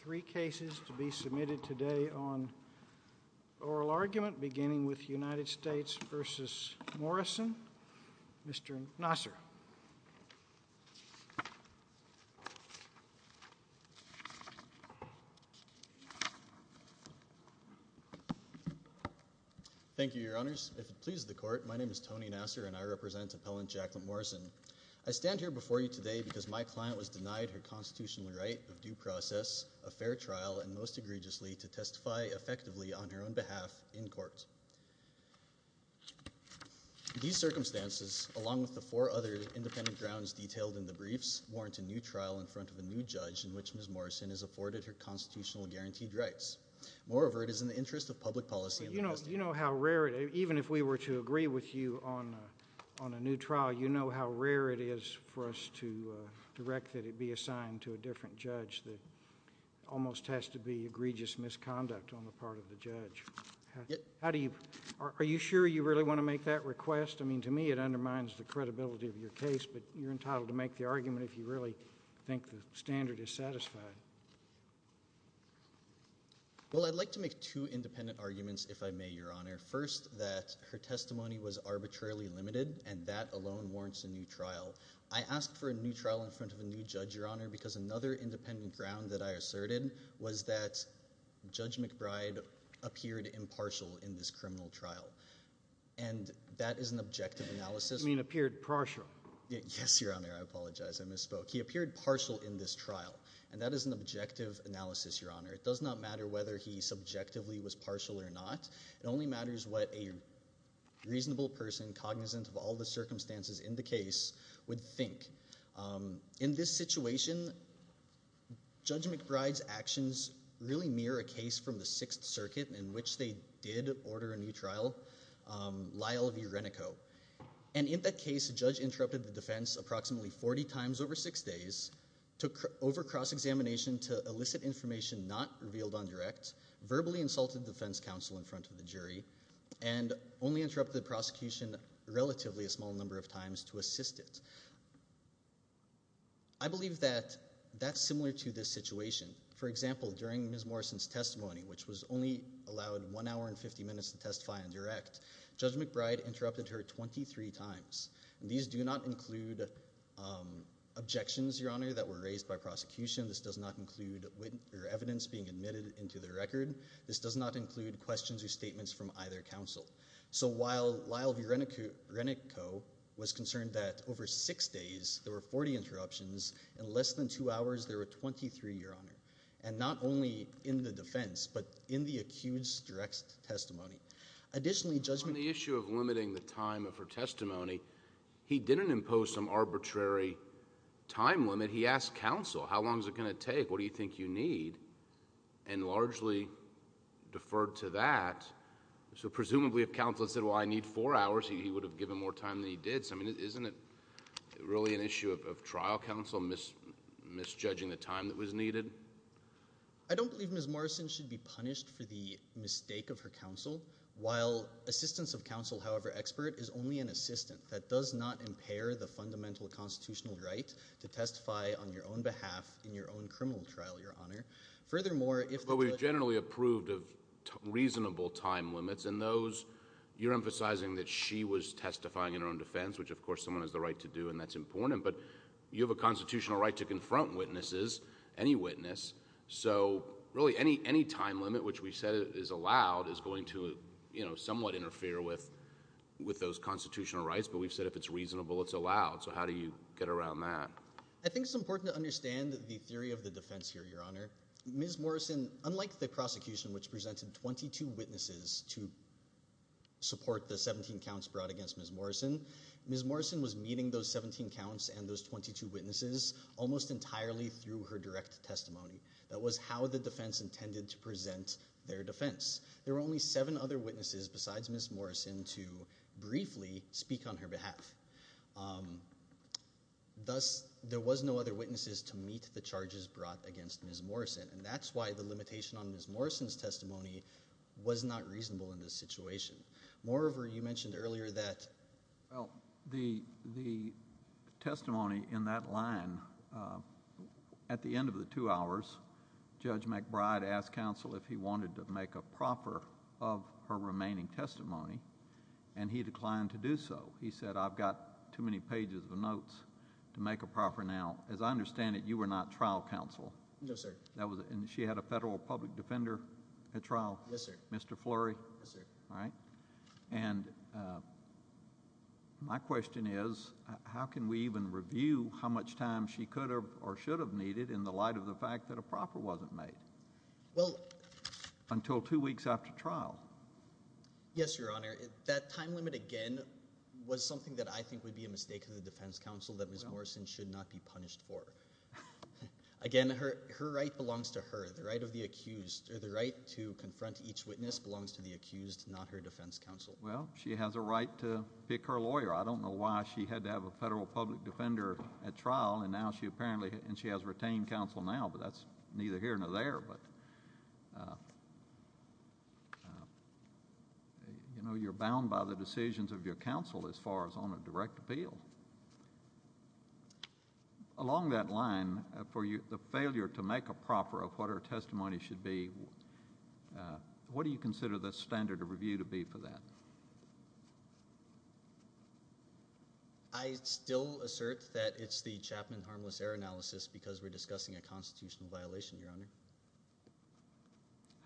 three cases to be submitted today on oral argument beginning with United States v. Morrison Mr. Nassar Thank you, your honors. If it pleases the court, my name is Tony Nassar and I represent appellant Jaclyn Morrison. I stand here before you today because my client was denied her a fair trial and most egregiously to testify effectively on her own behalf in court. These circumstances along with the four other independent grounds detailed in the briefs warrant a new trial in front of a new judge in which Ms. Morrison has afforded her constitutional guaranteed rights. Moreover, it is in the interest of public policy and the best interest of the court. Mr. Nassar You know how rare it is, even if we were to agree with you on a new trial, you know how rare it is to be assigned to a different judge that almost has to be egregious misconduct on the part of the judge. Are you sure you really want to make that request? I mean, to me it undermines the credibility of your case, but you're entitled to make the argument if you really think the standard is satisfied. Mr. Nassar Well, I'd like to make two independent arguments, if I may, your honor. First, that her testimony was arbitrarily limited and that alone warrants a new trial. I ask for a new trial in front of a new judge, your honor, because another independent ground that I asserted was that Judge McBride appeared impartial in this criminal trial, and that is an objective analysis. Mr. McNerney You mean appeared partial? Mr. Nassar Yes, your honor. I apologize. I misspoke. He appeared partial in this trial, and that is an objective analysis, your honor. It does not matter whether he subjectively was partial or not. It only matters what a reasonable person, cognizant of all the circumstances in the case, would think. In this situation, Judge McBride's actions really mirror a case from the Sixth Circuit in which they did order a new trial, Lyle v. Renico. And in that case, Judge interrupted the defense approximately 40 times over six days, took over cross-examination to elicit information not revealed on direct, verbally insulted defense counsel in front of the jury, and only interrupted the prosecution relatively a small number of times to assist it. I believe that that's similar to this situation. For example, during Ms. Morrison's testimony, which was only allowed one hour and 50 minutes to testify on direct, Judge McBride interrupted her 23 times. These do not include objections, your honor, that were raised by prosecution. This does not include evidence being admitted into the record. This does not include questions or statements from either counsel. So while Lyle v. Renico was concerned that over six days, there were 40 interruptions, in less than two hours there were 23, your honor. And not only in the defense, but in the accused's direct testimony. Additionally, Judge McBride- On the issue of limiting the time of her testimony, he didn't impose some arbitrary time limit. He asked counsel, how long is it going to take? What do you think you need? And largely deferred to that, so presumably if counsel had said, well I need four hours, he would have given more time than he did. So I mean, isn't it really an issue of trial counsel misjudging the time that was needed? Judge McBride- I don't believe Ms. Morrison should be punished for the mistake of her counsel. While assistance of counsel, however expert, is only an assistant. That does not impair the fundamental constitutional right to testify on your own behalf in your own criminal trial, your honor. Furthermore, if the- Judge McBride- But we've generally approved of reasonable time limits, and those, you're emphasizing that she was testifying in her own defense, which of course someone has the right to do, and that's important. But you have a constitutional right to confront witnesses, any witness. So really any time limit which we said is allowed is going to somewhat interfere with those constitutional rights. But we've said if it's reasonable, it's allowed. So how do you get around that? Judge McBride- I think it's important to understand the theory of the defense here, your honor. Ms. Morrison, unlike the prosecution which presented 22 witnesses to support the 17 counts brought against Ms. Morrison, Ms. Morrison was meeting those 17 counts and those 22 witnesses almost entirely through her direct testimony. That was how the defense intended to present their defense. There were only seven other witnesses besides Ms. Morrison to briefly speak on her behalf. Thus, there was no other witnesses to meet the charges brought against Ms. Morrison, and that's why the limitation on Ms. Morrison's testimony was not reasonable in this situation. Moreover, you mentioned earlier that- Judge McBride- Well, the testimony in that line, at the end of the two hours, Judge McBride asked counsel if he wanted to make a proffer of her remaining testimony, and he declined to do so. He said, I've got too many pages of notes to make a proffer now. As I understand it, you were not trial counsel. Judge McBride- No, sir. Judge McBride- And she had a federal public defender at trial, Mr. Fleury. Judge McBride- Yes, sir. Judge McBride- All right. And my question is, how can we even review how much time she could have or should have needed in the light of the fact that a proffer wasn't made? Judge McBride- Well- Judge McBride- Until two weeks after trial. Judge McBride- Yes, Your Honor. That time limit, again, was something that I think would be a mistake of the defense counsel that Ms. Morrison should not be punished for. Again, her right belongs to her. The right of the accused, or the right to confront each witness belongs to the accused, not her defense counsel. Judge McBride- Well, she has a right to pick her lawyer. I don't know why she had to have a federal public defender at trial, and now she apparently, and she has retained counsel now, but that's neither here nor there. You know, you're bound by the decisions of your counsel as far as on a direct appeal. Along that line, for the failure to make a proffer of what her testimony should be, what do you consider the standard of review to be for that? Judge Fleury- I still assert that it's the Chapman Harmless Error Analysis because we're talking about a constitutional violation, Your Honor.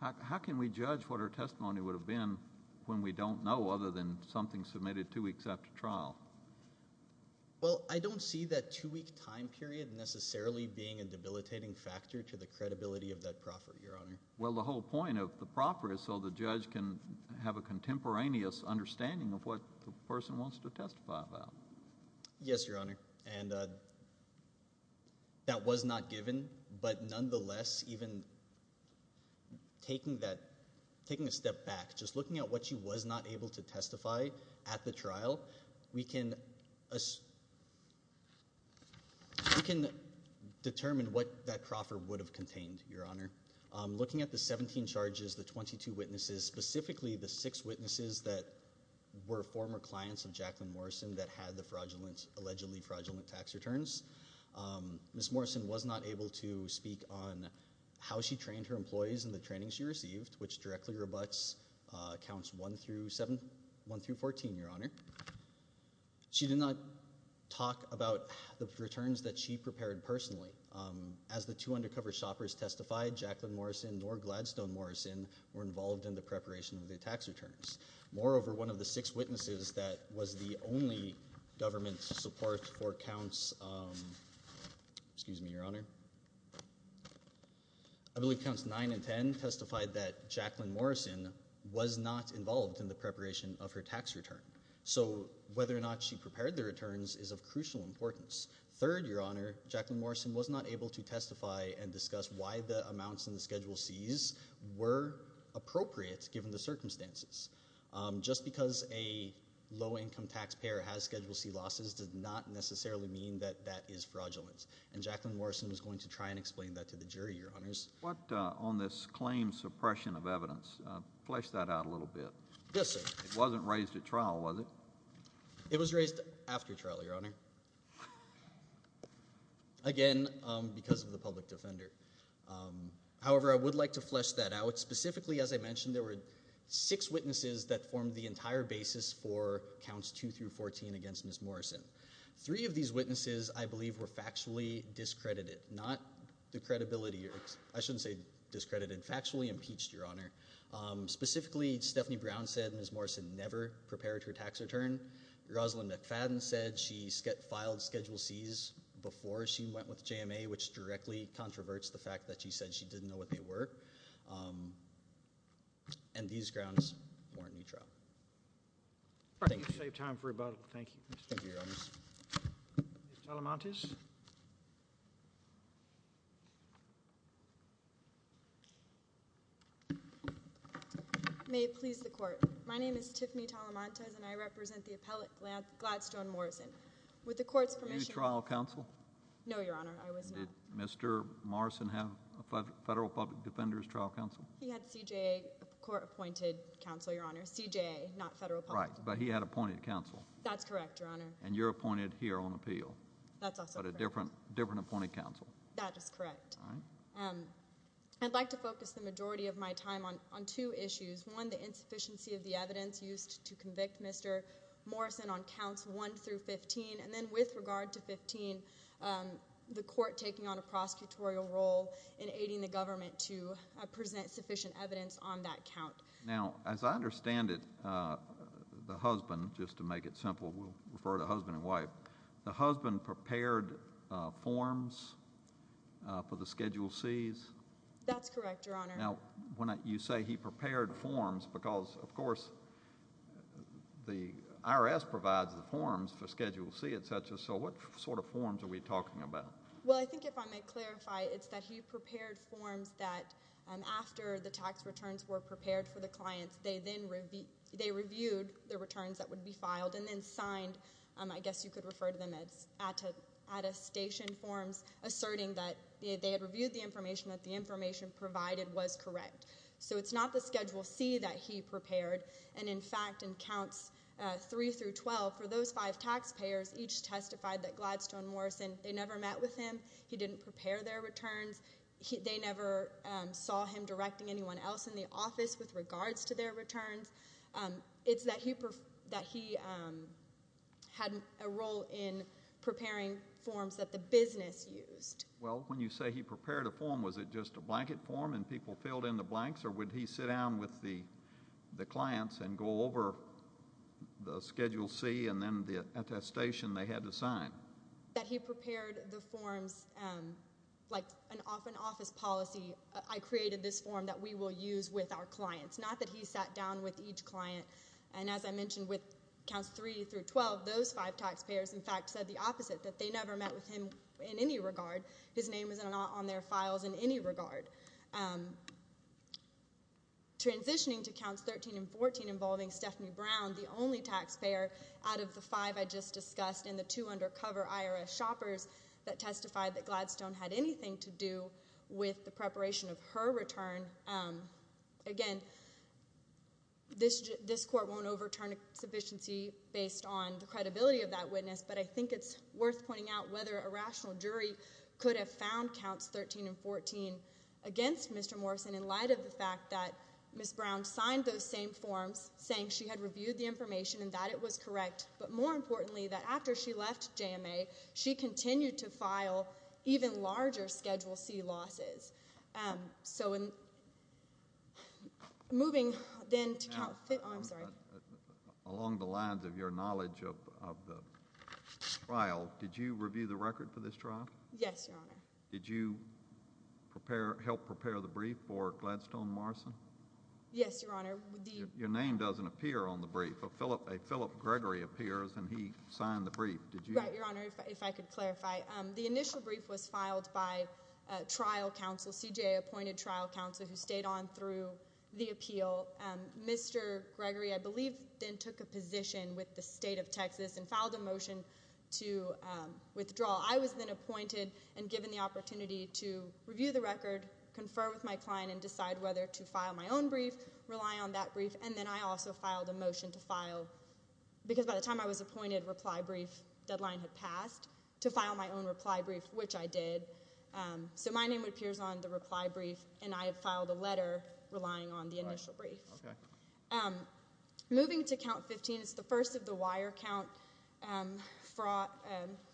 Judge McBride- How can we judge what her testimony would have been when we don't know, other than something submitted two weeks after trial? Judge Fleury- Well, I don't see that two-week time period necessarily being a debilitating factor to the credibility of that proffer, Your Honor. Judge McBride- Well, the whole point of the proffer is so the judge can have a contemporaneous understanding of what the person wants to testify about. Judge Fleury- Yes, Your Honor, and that was not given, but nonetheless, even taking a step back, just looking at what she was not able to testify at the trial, we can determine what that proffer would have contained, Your Honor. Looking at the 17 charges, the 22 witnesses, specifically the six witnesses that were former clients of Jacqueline Morrison that had the fraudulent, allegedly fraudulent tax returns, Ms. Morrison was not able to speak on how she trained her employees and the training she received, which directly rebutts counts 1-7, 1-14, Your Honor. She did not talk about the returns that she prepared personally. As the two undercover shoppers testified, Jacqueline Morrison nor Gladstone Morrison were involved in the preparation of the tax returns. Moreover, one of the six witnesses that was the only government support for counts, excuse me, Your Honor, I believe counts 9 and 10 testified that Jacqueline Morrison was not involved in the preparation of her tax return. So whether or not she prepared the returns is of crucial importance. Third, Your Honor, Jacqueline Morrison was not able to testify and discuss why the amounts in the Schedule C's were appropriate given the circumstances. Just because a low-income taxpayer has Schedule C losses does not necessarily mean that that is fraudulent, and Jacqueline Morrison was going to try and explain that to the jury, Your Honors. What on this claim suppression of evidence, flesh that out a little bit. Yes, sir. It wasn't raised at trial, was it? It was raised after trial, Your Honor. Again, because of the public defender. However, I would like to flesh that out. Specifically, as I mentioned, there were six witnesses that formed the entire basis for counts 2 through 14 against Ms. Morrison. Three of these witnesses, I believe, were factually discredited. Not the credibility, I shouldn't say discredited, factually impeached, Your Honor. Specifically, Stephanie Brown said Ms. Morrison never prepared her tax return. Rosalyn McFadden said she filed Schedule C's before she went with JMA, which directly controverts the fact that she said she didn't know what they were. And these grounds warrant new trial. All right, you saved time for rebuttal. Thank you. Thank you, Your Honors. Ms. Alamantis. May it please the Court. My name is Tiffany Alamantis, and I represent the appellate, Gladstone Morrison. With the Court's permission... New trial counsel? No, Your Honor. I was not. Did Mr. Morrison have a federal public defender's trial counsel? He had CJA, a court-appointed counsel, Your Honor. CJA, not federal public defender. Right, but he had appointed counsel. That's correct, Your Honor. And you're appointed here on appeal. That's also correct. But a different appointed counsel. That is correct. I'd like to focus the majority of my time on two issues. One, the insufficiency of the evidence used to convict Mr. Morrison on counts 1 through 15. And then with regard to 15, the Court taking on a prosecutorial role in aiding the government to present sufficient evidence on that count. Now, as I understand it, the husband—just to make it simple, we'll refer to husband and wife— the husband prepared forms for the Schedule C's? That's correct, Your Honor. Now, you say he prepared forms because, of course, the IRS provides the forms for Schedule C, etc. So what sort of forms are we talking about? Well, I think if I may clarify, it's that he prepared forms that, after the tax returns were prepared for the clients, they reviewed the returns that would be filed and then signed— I guess you could refer to them as attestation forms— asserting that they had reviewed the information, that the information provided was correct. So it's not the Schedule C that he prepared. And, in fact, in counts 3 through 12, for those five taxpayers, each testified that Gladstone Morrison—they never met with him. He didn't prepare their returns. They never saw him directing anyone else in the office with regards to their returns. It's that he had a role in preparing forms that the business used. Well, when you say he prepared a form, was it just a blanket form and people filled in the blanks, or would he sit down with the clients and go over the Schedule C and then the attestation they had to sign? That he prepared the forms like an office policy. I created this form that we will use with our clients. Not that he sat down with each client. And, as I mentioned, with counts 3 through 12, those five taxpayers, in fact, said the opposite, that they never met with him in any regard. His name was not on their files in any regard. Transitioning to counts 13 and 14 involving Stephanie Brown, the only taxpayer out of the five I just discussed and the two undercover IRS shoppers that testified that Gladstone had anything to do with the preparation of her return. Again, this court won't overturn its efficiency based on the credibility of that witness, but I think it's worth pointing out whether a rational jury could have found counts 13 and 14 against Mr. Morrison in light of the fact that Ms. Brown signed those same forms saying she had reviewed the information and that it was correct, but more importantly, that after she left JMA, she continued to file even larger Schedule C losses. So, moving then to count 15. Oh, I'm sorry. Along the lines of your knowledge of the trial, did you review the record for this trial? Yes, Your Honor. Did you help prepare the brief for Gladstone Morrison? Yes, Your Honor. Your name doesn't appear on the brief. A Philip Gregory appears and he signed the brief. Did you? Right, Your Honor, if I could clarify. The initial brief was filed by trial counsel, CJA-appointed trial counsel who stayed on through the appeal. Mr. Gregory, I believe, then took a position with the State of Texas and filed a motion to withdraw. I was then appointed and given the opportunity to review the record, confer with my client, and decide whether to file my own brief, rely on that brief, and then I also filed a motion to file, because by the time I was appointed, reply brief deadline had passed, to file my own reply brief, which I did. So my name appears on the reply brief and I have filed a letter relying on the initial brief. Moving to count 15, it's the first of the wire count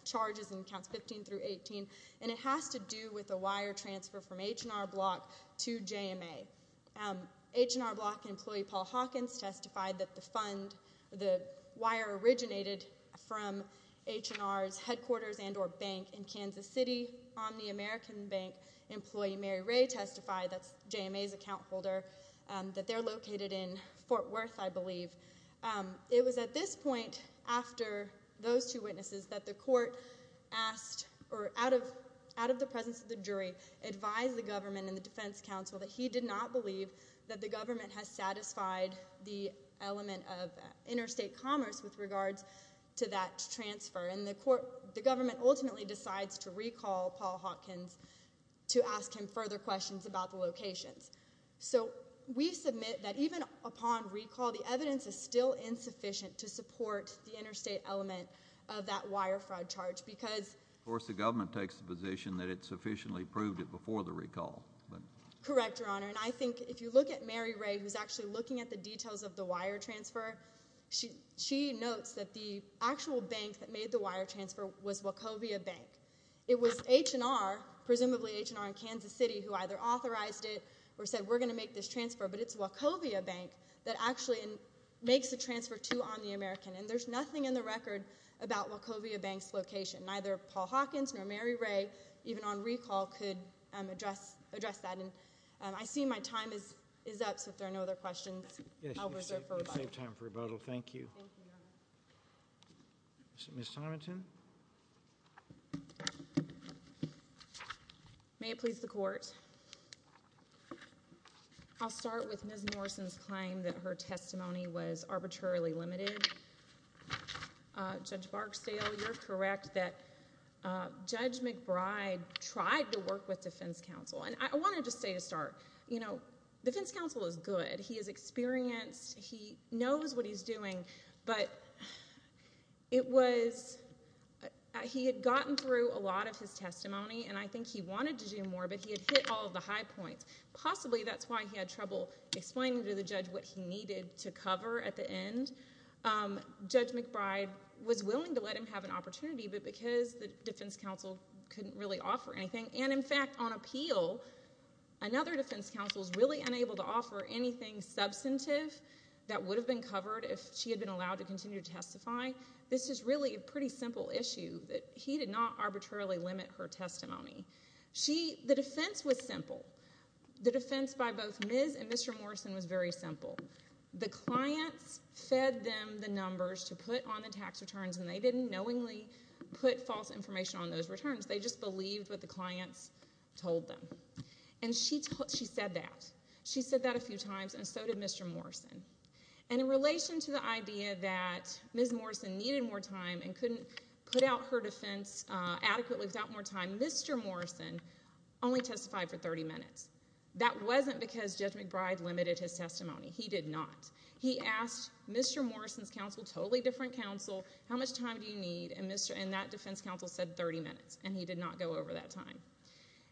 charges in counts 15 through 18, and it has to do with a wire transfer from H&R Block to JMA. H&R Block employee Paul Hawkins testified that the fund, the wire originated from H&R's headquarters and or bank in Kansas City. Omni American Bank employee Mary Ray testified, that's JMA's account holder, that they're located in Fort Worth, I believe. It was at this point, after those two witnesses, that the court asked, or out of the presence of the jury, advised the government and the defense counsel that he did not believe that the government has satisfied the element of interstate commerce with regards to that transfer, and the government ultimately decides to recall Paul Hawkins to ask him further questions about the locations. So we submit that even upon recall, the evidence is still insufficient to support the interstate element of that wire fraud charge. Of course, the government takes the position that it sufficiently proved it before the recall. Correct, Your Honor, and I think if you look at Mary Ray, who's actually looking at the details of the wire transfer, she notes that the actual bank that made the wire transfer was Wachovia Bank. It was H&R, presumably H&R in Kansas City, who either authorized it or said, we're going to make this transfer, but it's Wachovia Bank that actually makes the transfer to Omni American, and there's nothing in the record about Wachovia Bank's location. Neither Paul Hawkins nor Mary Ray, even on recall, could address that, and I see my time is up, so if there are no other questions, I'll reserve for rebuttal. Yes, you have saved time for rebuttal. Thank you. Thank you, Your Honor. Ms. Tomiton? May it please the Court, I'll start with Ms. Morrison's claim that her testimony was arbitrarily limited. Judge Barksdale, you're correct that Judge McBride tried to work with defense counsel, and I want to just say to start, you know, defense counsel is good. He is experienced. He knows what he's doing, but it was, he had gotten through a lot of his testimony, and I think he wanted to do more, but he had hit all of the high points. Possibly that's why he had trouble explaining to the judge what he needed to cover at the end. Judge McBride was willing to let him have an opportunity, but because the defense counsel couldn't really offer anything, and in fact, on appeal, another defense counsel is really unable to offer anything substantive that would have been covered if she had been allowed to continue to testify. This is really a pretty simple issue that he did not arbitrarily limit her testimony. The defense was simple. The defense by both Ms. and Mr. Morrison was very simple. The clients fed them the numbers to put on the tax returns, and they didn't knowingly put false information on those returns. They just believed what the clients told them, and she said that. She said that a few times, and so did Mr. Morrison. And in relation to the idea that Ms. Morrison needed more time and couldn't put out her defense adequately without more time, Mr. Morrison only testified for 30 minutes. That wasn't because Judge McBride limited his testimony. He did not. He asked Mr. Morrison's counsel, totally different counsel, how much time do you need, and that defense counsel said 30 minutes, and he did not go over that time.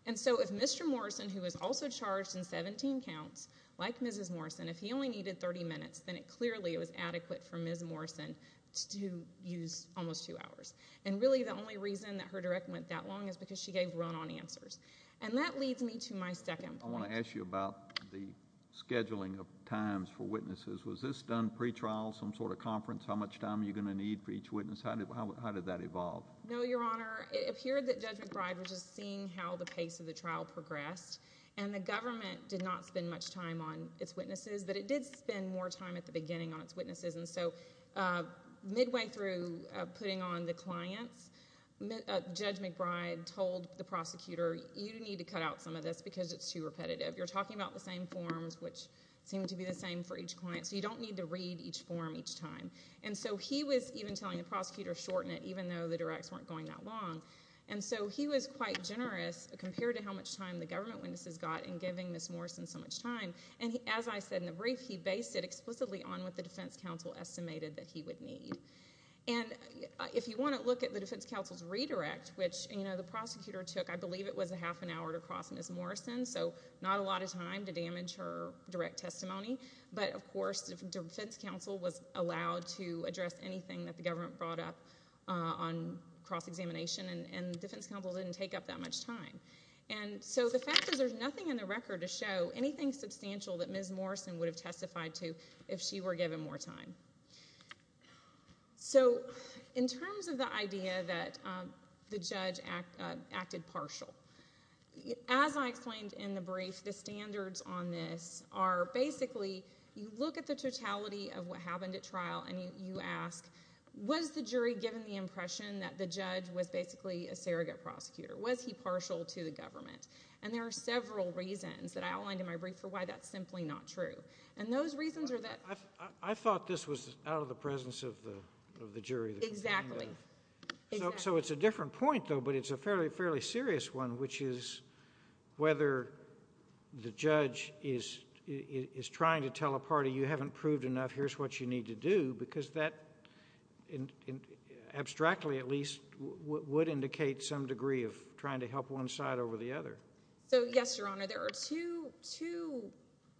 And so if Mr. Morrison, who was also charged in 17 counts, like Mrs. Morrison, if he only needed 30 minutes, then clearly it was adequate for Ms. Morrison to use almost two hours. And really the only reason that her directive went that long is because she gave run-on answers. And that leads me to my second point. I want to ask you about the scheduling of times for witnesses. Was this done pre-trial, some sort of conference, how much time are you going to need for each witness? How did that evolve? No, Your Honor, it appeared that Judge McBride was just seeing how the pace of the trial progressed, and the government did not spend much time on its witnesses, but it did spend more time at the beginning on its witnesses. And so midway through putting on the clients, Judge McBride told the prosecutor, you need to cut out some of this because it's too repetitive. You're talking about the same forms, which seem to be the same for each client, so you don't need to read each form each time. And so he was even telling the prosecutor, shorten it, even though the directs weren't going that long. And so he was quite generous compared to how much time the government witnesses got in giving Ms. Morrison so much time. And as I said in the brief, he based it explicitly on what the defense counsel estimated that he would need. And if you want to look at the defense counsel's redirect, which the prosecutor took, I believe it was a half an hour to cross Ms. Morrison, so not a lot of time to damage her direct testimony. But, of course, the defense counsel was allowed to address anything that the government brought up on cross-examination, and the defense counsel didn't take up that much time. And so the fact is there's nothing in the record to show anything substantial that Ms. Morrison would have testified to if she were given more time. So in terms of the idea that the judge acted partial, as I explained in the brief, the standards on this are basically you look at the totality of what happened at trial, and you ask, was the jury given the impression that the judge was basically a surrogate prosecutor? Was he partial to the government? And there are several reasons that I outlined in my brief for why that's simply not true. And those reasons are that— I thought this was out of the presence of the jury. Exactly. So it's a different point, though, but it's a fairly serious one, which is whether the judge is trying to tell a party, you haven't proved enough, here's what you need to do, because that, abstractly at least, would indicate some degree of trying to help one side over the other. So, yes, Your Honor, there are two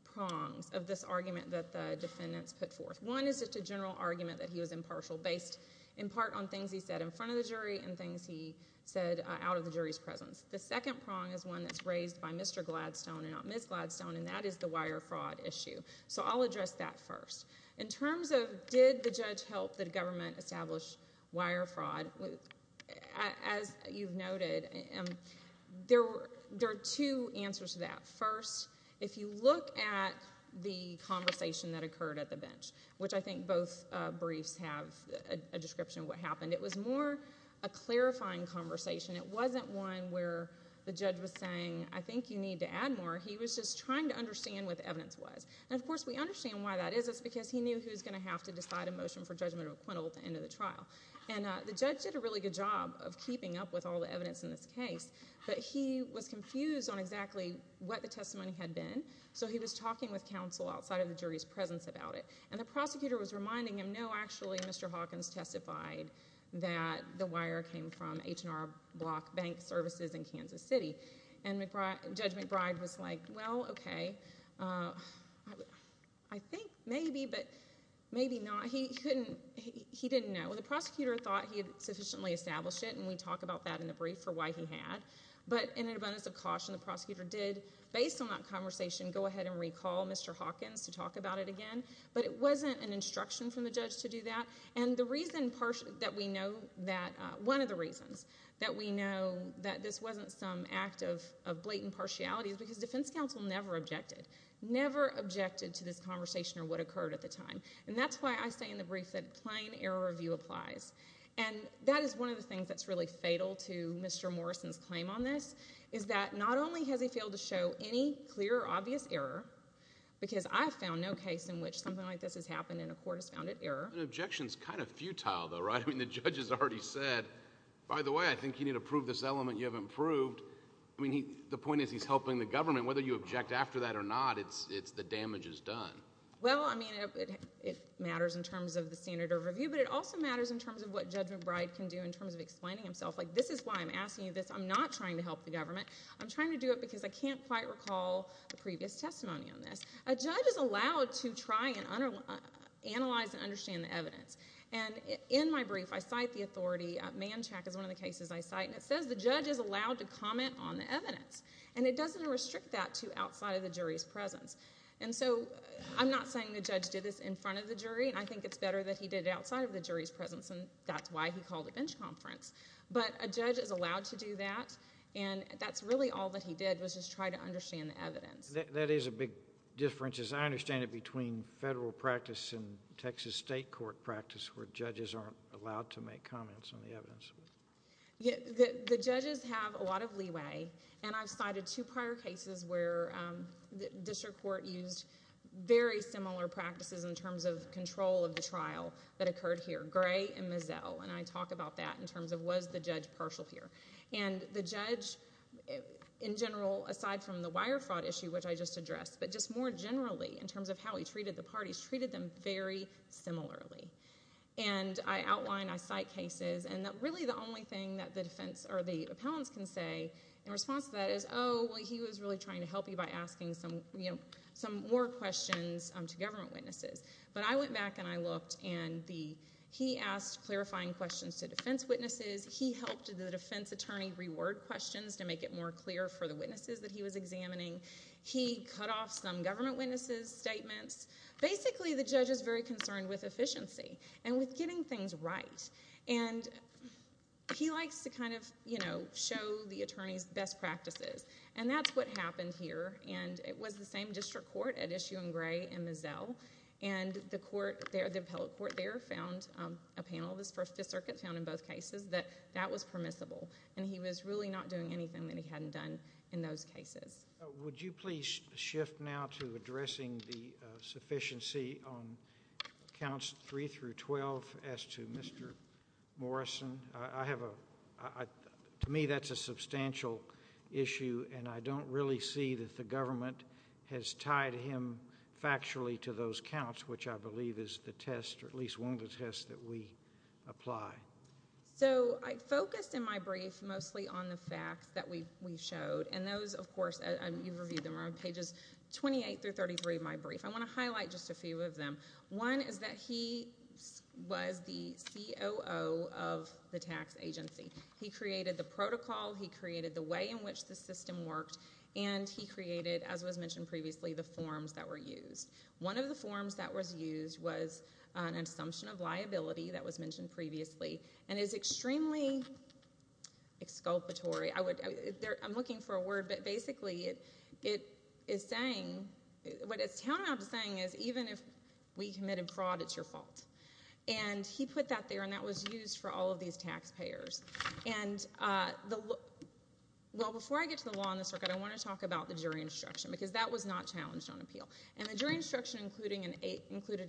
prongs of this argument that the defendants put forth. One is just a general argument that he was impartial based in part on things he said in front of the jury and things he said out of the jury's presence. The second prong is one that's raised by Mr. Gladstone and not Ms. Gladstone, and that is the wire fraud issue. So I'll address that first. In terms of did the judge help the government establish wire fraud, as you've noted, there are two answers to that. First, if you look at the conversation that occurred at the bench, which I think both briefs have a description of what happened, it was more a clarifying conversation. It wasn't one where the judge was saying, I think you need to add more. He was just trying to understand what the evidence was. And, of course, we understand why that is. It's because he knew he was going to have to decide a motion for Judge McBride at the end of the trial. And the judge did a really good job of keeping up with all the evidence in this case, but he was confused on exactly what the testimony had been, so he was talking with counsel outside of the jury's presence about it. And the prosecutor was reminding him, no, actually, Mr. Hawkins testified that the wire came from H&R Block Bank Services in Kansas City, and Judge McBride was like, well, okay, I think maybe, but maybe not. He didn't know. The prosecutor thought he had sufficiently established it, and we talk about that in the brief for why he had. But in an abundance of caution, the prosecutor did, based on that conversation, go ahead and recall Mr. Hawkins to talk about it again, but it wasn't an instruction from the judge to do that. And one of the reasons that we know that this wasn't some act of blatant partiality is because defense counsel never objected, never objected to this conversation or what occurred at the time. And that's why I say in the brief that plain error of view applies. And that is one of the things that's really fatal to Mr. Morrison's claim on this, is that not only has he failed to show any clear or obvious error, because I have found no case in which something like this has happened and a court has found it error. Objection is kind of futile, though, right? I mean, the judge has already said, by the way, I think you need to prove this element you haven't proved. I mean, the point is he's helping the government. Whether you object after that or not, the damage is done. Well, I mean, it matters in terms of the standard of review, but it also matters in terms of what Judge McBride can do in terms of explaining himself. Like, this is why I'm asking you this. I'm not trying to help the government. I'm trying to do it because I can't quite recall the previous testimony on this. A judge is allowed to try and analyze and understand the evidence. And in my brief, I cite the authority. Manchac is one of the cases I cite, and it says the judge is allowed to comment on the evidence. And it doesn't restrict that to outside of the jury's presence. And so I'm not saying the judge did this in front of the jury, and I think it's better that he did it outside of the jury's presence, and that's why he called a bench conference. But a judge is allowed to do that, and that's really all that he did was just try to understand the evidence. That is a big difference, as I understand it, between federal practice and Texas state court practice where judges aren't allowed to make comments on the evidence. The judges have a lot of leeway, and I've cited two prior cases where the district court used very similar practices in terms of control of the trial that occurred here, Gray and Mazzell, and I talk about that in terms of was the judge partial here. And the judge, in general, aside from the wire fraud issue, which I just addressed, but just more generally in terms of how he treated the parties, treated them very similarly. And I outline, I cite cases, and really the only thing that the defense or the appellants can say in response to that is, oh, well, he was really trying to help you by asking some more questions to government witnesses. But I went back and I looked, and he asked clarifying questions to defense witnesses. He helped the defense attorney reword questions to make it more clear for the witnesses that he was examining. He cut off some government witnesses' statements. Basically, the judge is very concerned with efficiency and with getting things right, and he likes to kind of show the attorney's best practices, and that's what happened here. And it was the same district court at issue in Gray and Mazzell, and the court there, the appellate court there, found a panel. The circuit found in both cases that that was permissible, and he was really not doing anything that he hadn't done in those cases. Would you please shift now to addressing the sufficiency on counts 3 through 12 as to Mr. Morrison? To me, that's a substantial issue, and I don't really see that the government has tied him factually to those counts, which I believe is the test or at least one of the tests that we apply. So I focused in my brief mostly on the facts that we showed, and those, of course, you've reviewed them, are on Pages 28 through 33 of my brief. I want to highlight just a few of them. One is that he was the COO of the tax agency. He created the protocol. He created the way in which the system worked, and he created, as was mentioned previously, the forms that were used. One of the forms that was used was an assumption of liability that was mentioned previously, and is extremely exculpatory. I'm looking for a word, but basically it is saying, what it's coming out to saying is even if we committed fraud, it's your fault. He put that there, and that was used for all of these taxpayers. Before I get to the law on the circuit, I want to talk about the jury instruction, because that was not challenged on appeal. The jury instruction included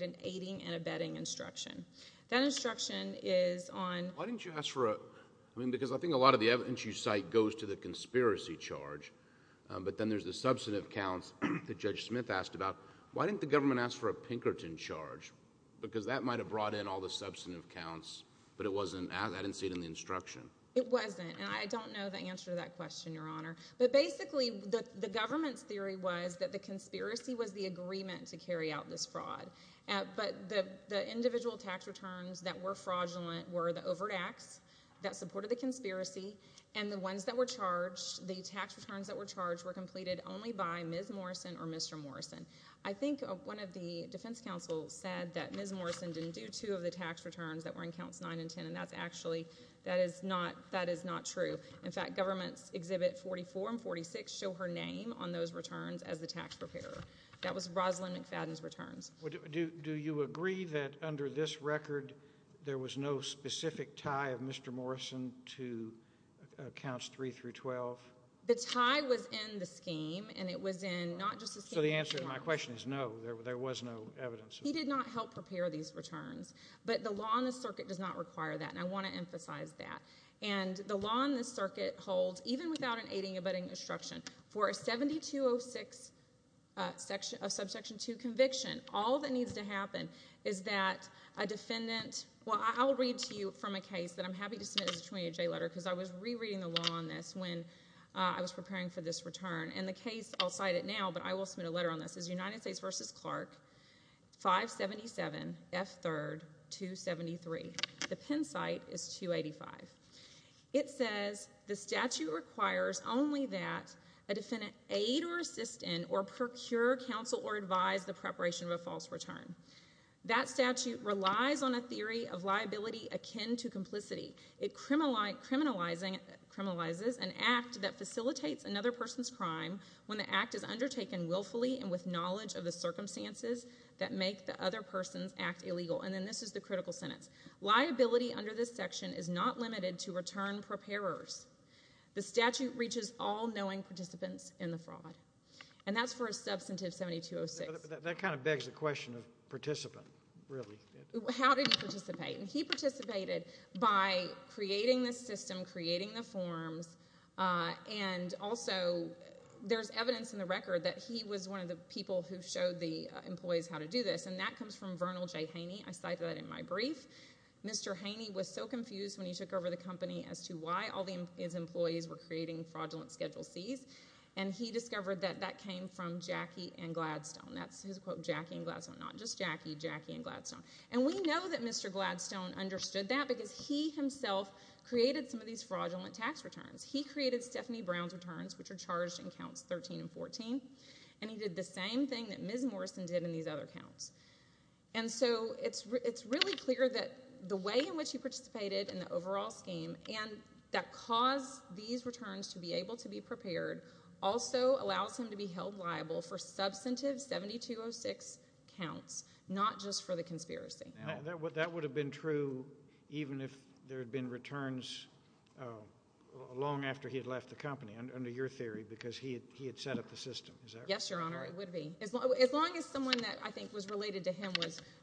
an aiding and abetting instruction. That instruction is on— Why didn't you ask for a—because I think a lot of the evidence you cite goes to the conspiracy charge, but then there's the substantive counts that Judge Smith asked about. Why didn't the government ask for a Pinkerton charge? Because that might have brought in all the substantive counts, but I didn't see it in the instruction. It wasn't, and I don't know the answer to that question, Your Honor. Basically, the government's theory was that the conspiracy was the agreement to carry out this fraud, but the individual tax returns that were fraudulent were the overt acts that supported the conspiracy, and the ones that were charged, the tax returns that were charged, were completed only by Ms. Morrison or Mr. Morrison. I think one of the defense counsels said that Ms. Morrison didn't do two of the tax returns that were in Counts 9 and 10, and that's actually—that is not true. In fact, Governments Exhibit 44 and 46 show her name on those returns as the tax preparer. That was Rosalynn McFadden's returns. Do you agree that under this record there was no specific tie of Mr. Morrison to Counts 3 through 12? The tie was in the scheme, and it was in not just the scheme. So the answer to my question is no, there was no evidence. He did not help prepare these returns, but the law in the circuit does not require that, and I want to emphasize that. And the law in this circuit holds, even without an aiding and abetting instruction, for a 7206 subsection 2 conviction, all that needs to happen is that a defendant—well, I will read to you from a case that I'm happy to submit as a 28-J letter, because I was rereading the law on this when I was preparing for this return. And the case—I'll cite it now, but I will submit a letter on this—is United States v. Clark, 577 F. 3rd, 273. The pen cite is 285. It says the statute requires only that a defendant aid or assist in or procure, counsel or advise the preparation of a false return. That statute relies on a theory of liability akin to complicity. It criminalizes an act that facilitates another person's crime when the act is undertaken willfully and with knowledge of the circumstances that make the other person's act illegal. And then this is the critical sentence. Liability under this section is not limited to return preparers. The statute reaches all knowing participants in the fraud. And that's for a substantive 7206. But that kind of begs the question of participant, really. How did he participate? He participated by creating the system, creating the forms, and also there's evidence in the record that he was one of the people who showed the employees how to do this, and that comes from Vernal J. Haney. I cited that in my brief. Mr. Haney was so confused when he took over the company as to why all his employees were creating fraudulent Schedule Cs, and he discovered that that came from Jackie and Gladstone. That's his quote, Jackie and Gladstone, not just Jackie, Jackie and Gladstone. And we know that Mr. Gladstone understood that because he himself created some of these fraudulent tax returns. He created Stephanie Brown's returns, which are charged in counts 13 and 14, and he did the same thing that Ms. Morrison did in these other counts. And so it's really clear that the way in which he participated in the overall scheme and that caused these returns to be able to be prepared also allows him to be held liable for substantive 7206 counts, not just for the conspiracy. That would have been true even if there had been returns long after he had left the company, under your theory, because he had set up the system, is that right? Yes, Your Honor, it would be. As long as someone that I think was related to him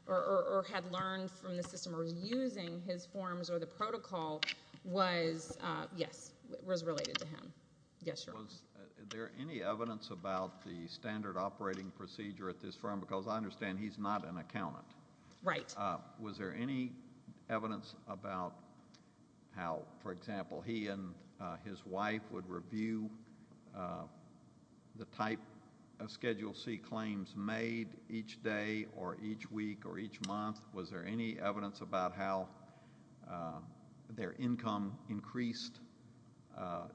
or had learned from the system or was using his forms or the protocol was, yes, was related to him. Yes, Your Honor. Was there any evidence about the standard operating procedure at this firm? Because I understand he's not an accountant. Right. Was there any evidence about how, for example, he and his wife would review the type of Schedule C claims made each day or each week or each month? Was there any evidence about how their income increased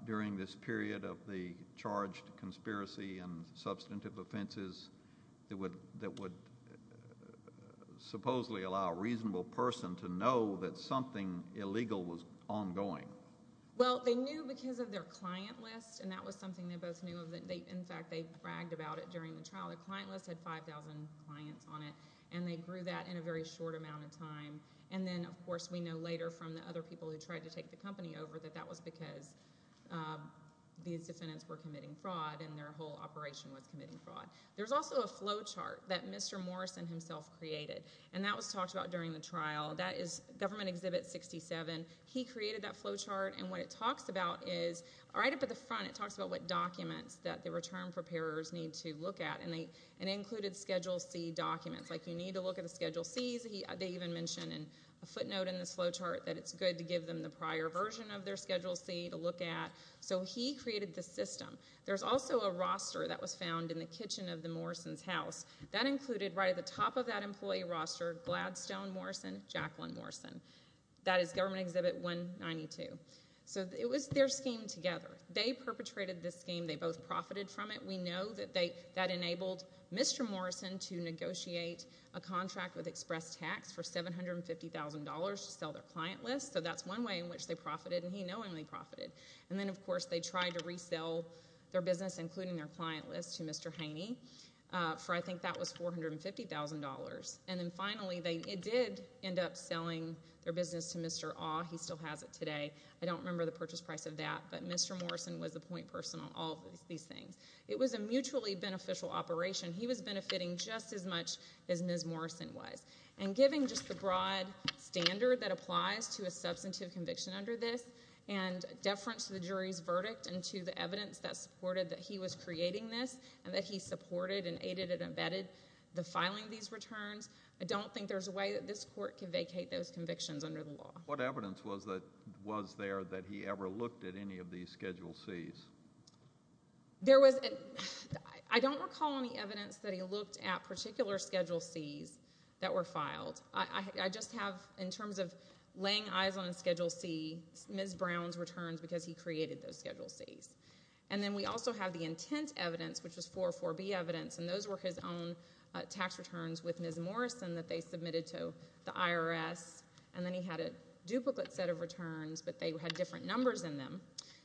during this period of the charged conspiracy and substantive offenses that would supposedly allow a reasonable person to know that something illegal was ongoing? Well, they knew because of their client list, and that was something they both knew of. In fact, they bragged about it during the trial. The client list had 5,000 clients on it, and they grew that in a very short amount of time. And then, of course, we know later from the other people who tried to take the company over that that was because these defendants were committing fraud and their whole operation was committing fraud. There's also a flowchart that Mr. Morrison himself created, and that was talked about during the trial. That is Government Exhibit 67. He created that flowchart, and what it talks about is right up at the front, it talks about what documents that the return preparers need to look at, and they included Schedule C documents, like you need to look at the Schedule Cs. They even mention in a footnote in the flowchart that it's good to give them the prior version of their Schedule C to look at. So he created the system. There's also a roster that was found in the kitchen of the Morrisons' house. That included right at the top of that employee roster Gladstone Morrison, Jacqueline Morrison. That is Government Exhibit 192. So it was their scheme together. They perpetrated this scheme. They both profited from it. We know that that enabled Mr. Morrison to negotiate a contract with Express Tax for $750,000 to sell their client list, so that's one way in which they profited, and he knowingly profited. And then, of course, they tried to resell their business, including their client list, to Mr. Haney for, I think that was $450,000. And then, finally, it did end up selling their business to Mr. Awe. He still has it today. I don't remember the purchase price of that, but Mr. Morrison was the point person on all of these things. It was a mutually beneficial operation. He was benefiting just as much as Ms. Morrison was. And giving just the broad standard that applies to a substantive conviction under this and deference to the jury's verdict and to the evidence that supported that he was creating this and that he supported and aided and abetted the filing of these returns, I don't think there's a way that this court can vacate those convictions under the law. What evidence was there that he ever looked at any of these Schedule Cs? I don't recall any evidence that he looked at particular Schedule Cs that were filed. I just have, in terms of laying eyes on a Schedule C, Ms. Brown's returns because he created those Schedule Cs. And then we also have the intent evidence, which was 404B evidence, and those were his own tax returns with Ms. Morrison that they submitted to the IRS, and then he had a duplicate set of returns, but they had different numbers in them,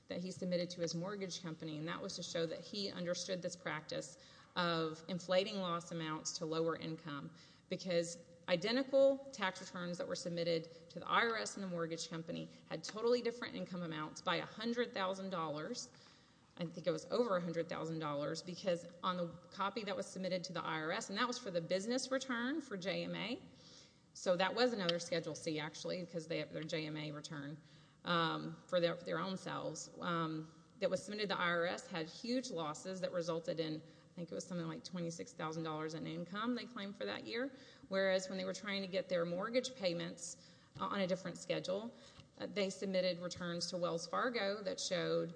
that he submitted to his mortgage company, and that was to show that he understood this practice of inflating loss amounts to lower income because identical tax returns that were submitted to the IRS and the mortgage company had totally different income amounts by $100,000. I think it was over $100,000 because on the copy that was submitted to the IRS, and that was for the business return for JMA. So that was another Schedule C actually because they have their JMA return for their own selves. That was submitted to the IRS, had huge losses that resulted in, I think it was something like $26,000 in income they claimed for that year, whereas when they were trying to get their mortgage payments on a different schedule, they submitted returns to Wells Fargo that showed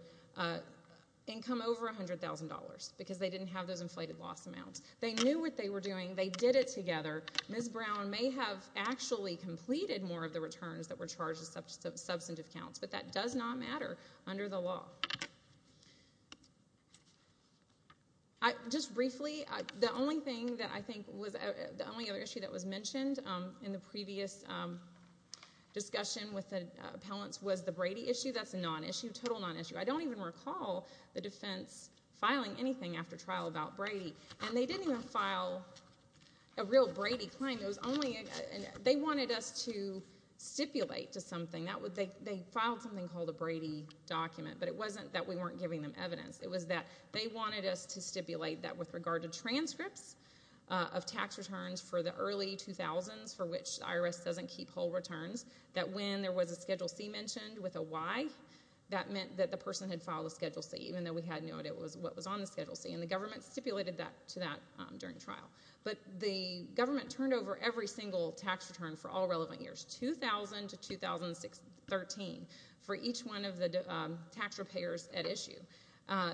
income over $100,000 because they didn't have those inflated loss amounts. They knew what they were doing. They did it together. Ms. Brown may have actually completed more of the returns that were charged as substantive counts, but that does not matter under the law. Just briefly, the only other issue that was mentioned in the previous discussion with the appellants was the Brady issue. That's a non-issue, total non-issue. I don't even recall the defense filing anything after trial about Brady, and they didn't even file a real Brady claim. They wanted us to stipulate to something. They filed something called a Brady document, but it wasn't that we weren't giving them evidence. It was that they wanted us to stipulate that with regard to transcripts of tax returns for the early 2000s for which the IRS doesn't keep whole returns, that when there was a Schedule C mentioned with a Y, that meant that the person had filed a Schedule C, even though we had no idea what was on the Schedule C, and the government stipulated to that during trial. But the government turned over every single tax return for all relevant years, 2000 to 2013, for each one of the tax repayers at issue.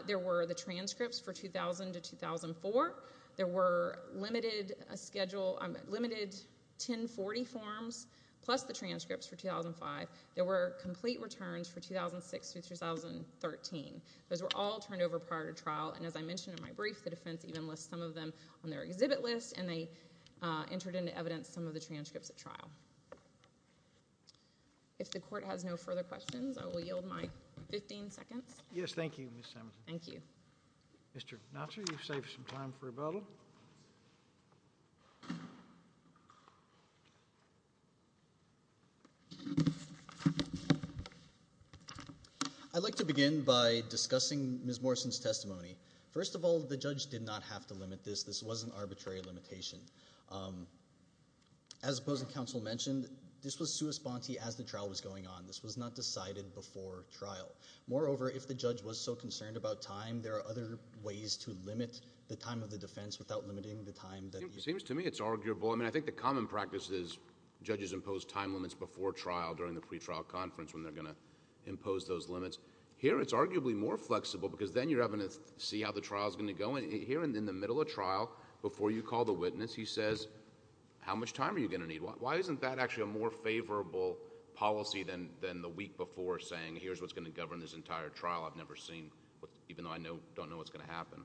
There were the transcripts for 2000 to 2004. There were limited 1040 forms plus the transcripts for 2005. There were complete returns for 2006 through 2013. Those were all turned over prior to trial, and as I mentioned in my brief, the defense even lists some of them on their exhibit list, and they entered into evidence some of the transcripts at trial. If the court has no further questions, I will yield my 15 seconds. Yes, thank you, Ms. Samuelson. Thank you. Mr. Knotzer, you've saved some time for rebuttal. I'd like to begin by discussing Ms. Morrison's testimony. First of all, the judge did not have to limit this. This was an arbitrary limitation. As opposing counsel mentioned, this was sui sponte as the trial was going on. This was not decided before trial. Moreover, if the judge was so concerned about time, there are other ways to limit the time of the defense without limiting the time... It seems to me it's arguable. I mean, I think the common practice is judges impose time limits before trial during the pretrial conference when they're going to impose those limits. Here, it's arguably more flexible because then you're having to see how the trial is going to go. Here, in the middle of trial, before you call the witness, he says, how much time are you going to need? Why isn't that actually a more favorable policy than the week before saying, here's what's going to govern this entire trial? I've never seen, even though I don't know what's going to happen.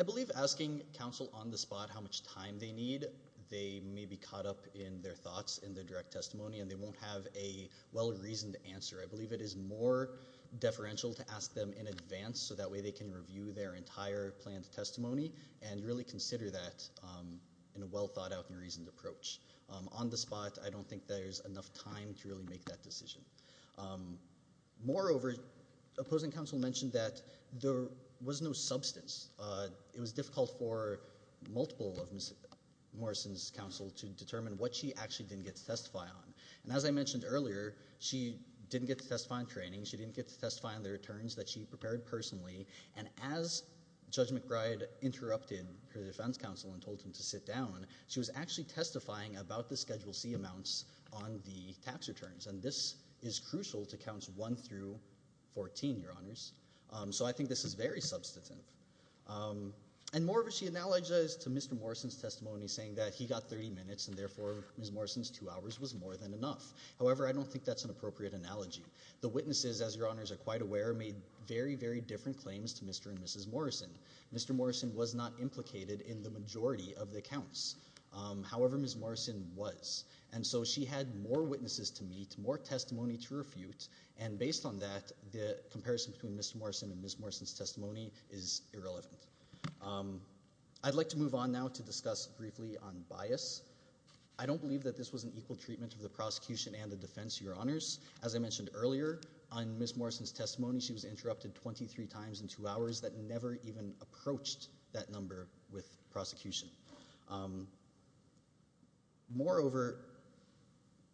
I believe asking counsel on the spot how much time they need, they may be caught up in their thoughts in the direct testimony and they won't have a well-reasoned answer. I believe it is more deferential to ask them in advance, so that way they can review their entire planned testimony and really consider that in a well-thought-out and reasoned approach. On the spot, I don't think there's enough time to really make that decision. Moreover, opposing counsel mentioned that there was no substance. It was difficult for multiple of Morrison's counsel to determine what she actually didn't get to testify on. As I mentioned earlier, she didn't get to testify on training. She didn't get to testify on the returns that she prepared personally. As Judge McBride interrupted her defense counsel and told him to sit down, she was actually testifying about the Schedule C amounts on the tax returns. And this is crucial to Counts 1 through 14, Your Honors. So I think this is very substantive. And moreover, she analogized to Mr. Morrison's testimony saying that he got 30 minutes and, therefore, Ms. Morrison's two hours was more than enough. However, I don't think that's an appropriate analogy. The witnesses, as Your Honors are quite aware, made very, very different claims to Mr. and Mrs. Morrison. Mr. Morrison was not implicated in the majority of the counts. However, Ms. Morrison was. And so she had more witnesses to meet, more testimony to refute, and based on that, the comparison between Mr. Morrison and Ms. Morrison's testimony is irrelevant. I'd like to move on now to discuss briefly on bias. I don't believe that this was an equal treatment of the prosecution and the defense, Your Honors. As I mentioned earlier, on Ms. Morrison's testimony, she was interrupted 23 times in two hours that never even approached that number with prosecution. Moreover,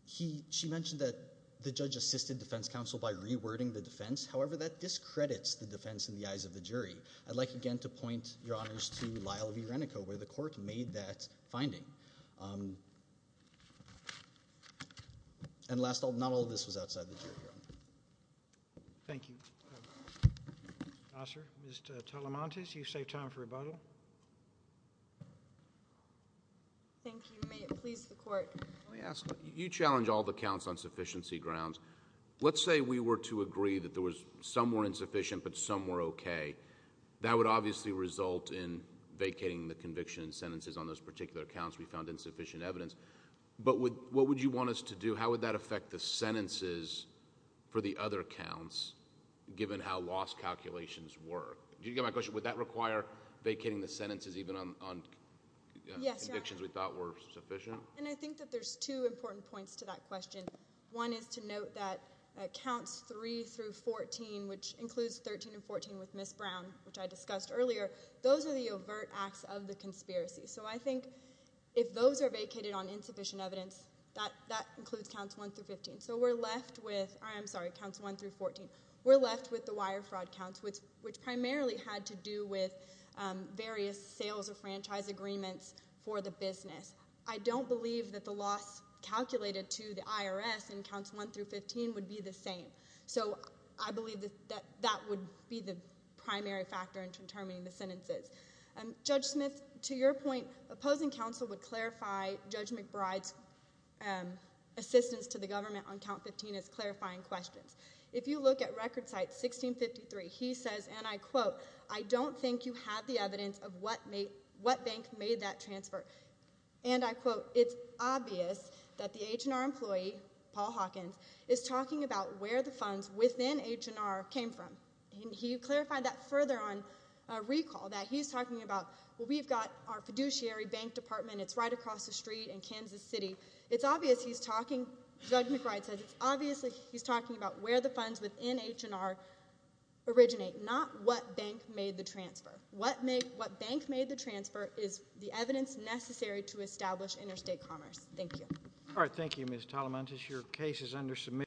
she mentioned that the judge assisted defense counsel by rewording the defense. However, that discredits the defense in the eyes of the jury. I'd like again to point, Your Honors, to Lyle v. Renico where the court made that finding. And last, not all of this was outside the jury, Your Honors. Thank you. Yes, sir. Mr. Talamantes, you've saved time for rebuttal. Thank you. May it please the court. Let me ask. You challenge all the counts on sufficiency grounds. Let's say we were to agree that there was some were insufficient but some were okay. That would obviously result in vacating the conviction and sentences on those particular counts. We found insufficient evidence. But what would you want us to do? How would that affect the sentences for the other counts given how lost calculations were? Do you get my question? Would that require vacating the sentences even on convictions we thought were sufficient? I think that there's two important points to that question. One is to note that counts 3 through 14, which includes 13 and 14 with Ms. Brown, which I discussed earlier, those are the overt acts of the conspiracy. So I think if those are vacated on insufficient evidence, that includes counts 1 through 15. So we're left with the wire fraud counts, which primarily had to do with various sales or franchise agreements for the business. I don't believe that the loss calculated to the IRS in counts 1 through 15 would be the same. So I believe that that would be the primary factor in determining the sentences. Judge Smith, to your point, opposing counsel would clarify Judge McBride's assistance to the government on count 15 as clarifying questions. If you look at record site 1653, he says, and I quote, I don't think you have the evidence of what bank made that transfer. And I quote, it's obvious that the H&R employee, Paul Hawkins, is talking about where the funds within H&R came from. And he clarified that further on recall, that he's talking about, well, we've got our fiduciary bank department. It's right across the street in Kansas City. It's obvious he's talking, Judge McBride says, it's obvious he's talking about where the funds within H&R originate, not what bank made the transfer. What bank made the transfer is the evidence necessary to establish interstate commerce. Thank you. All right, thank you, Ms. Talamantas. Your case is under submission.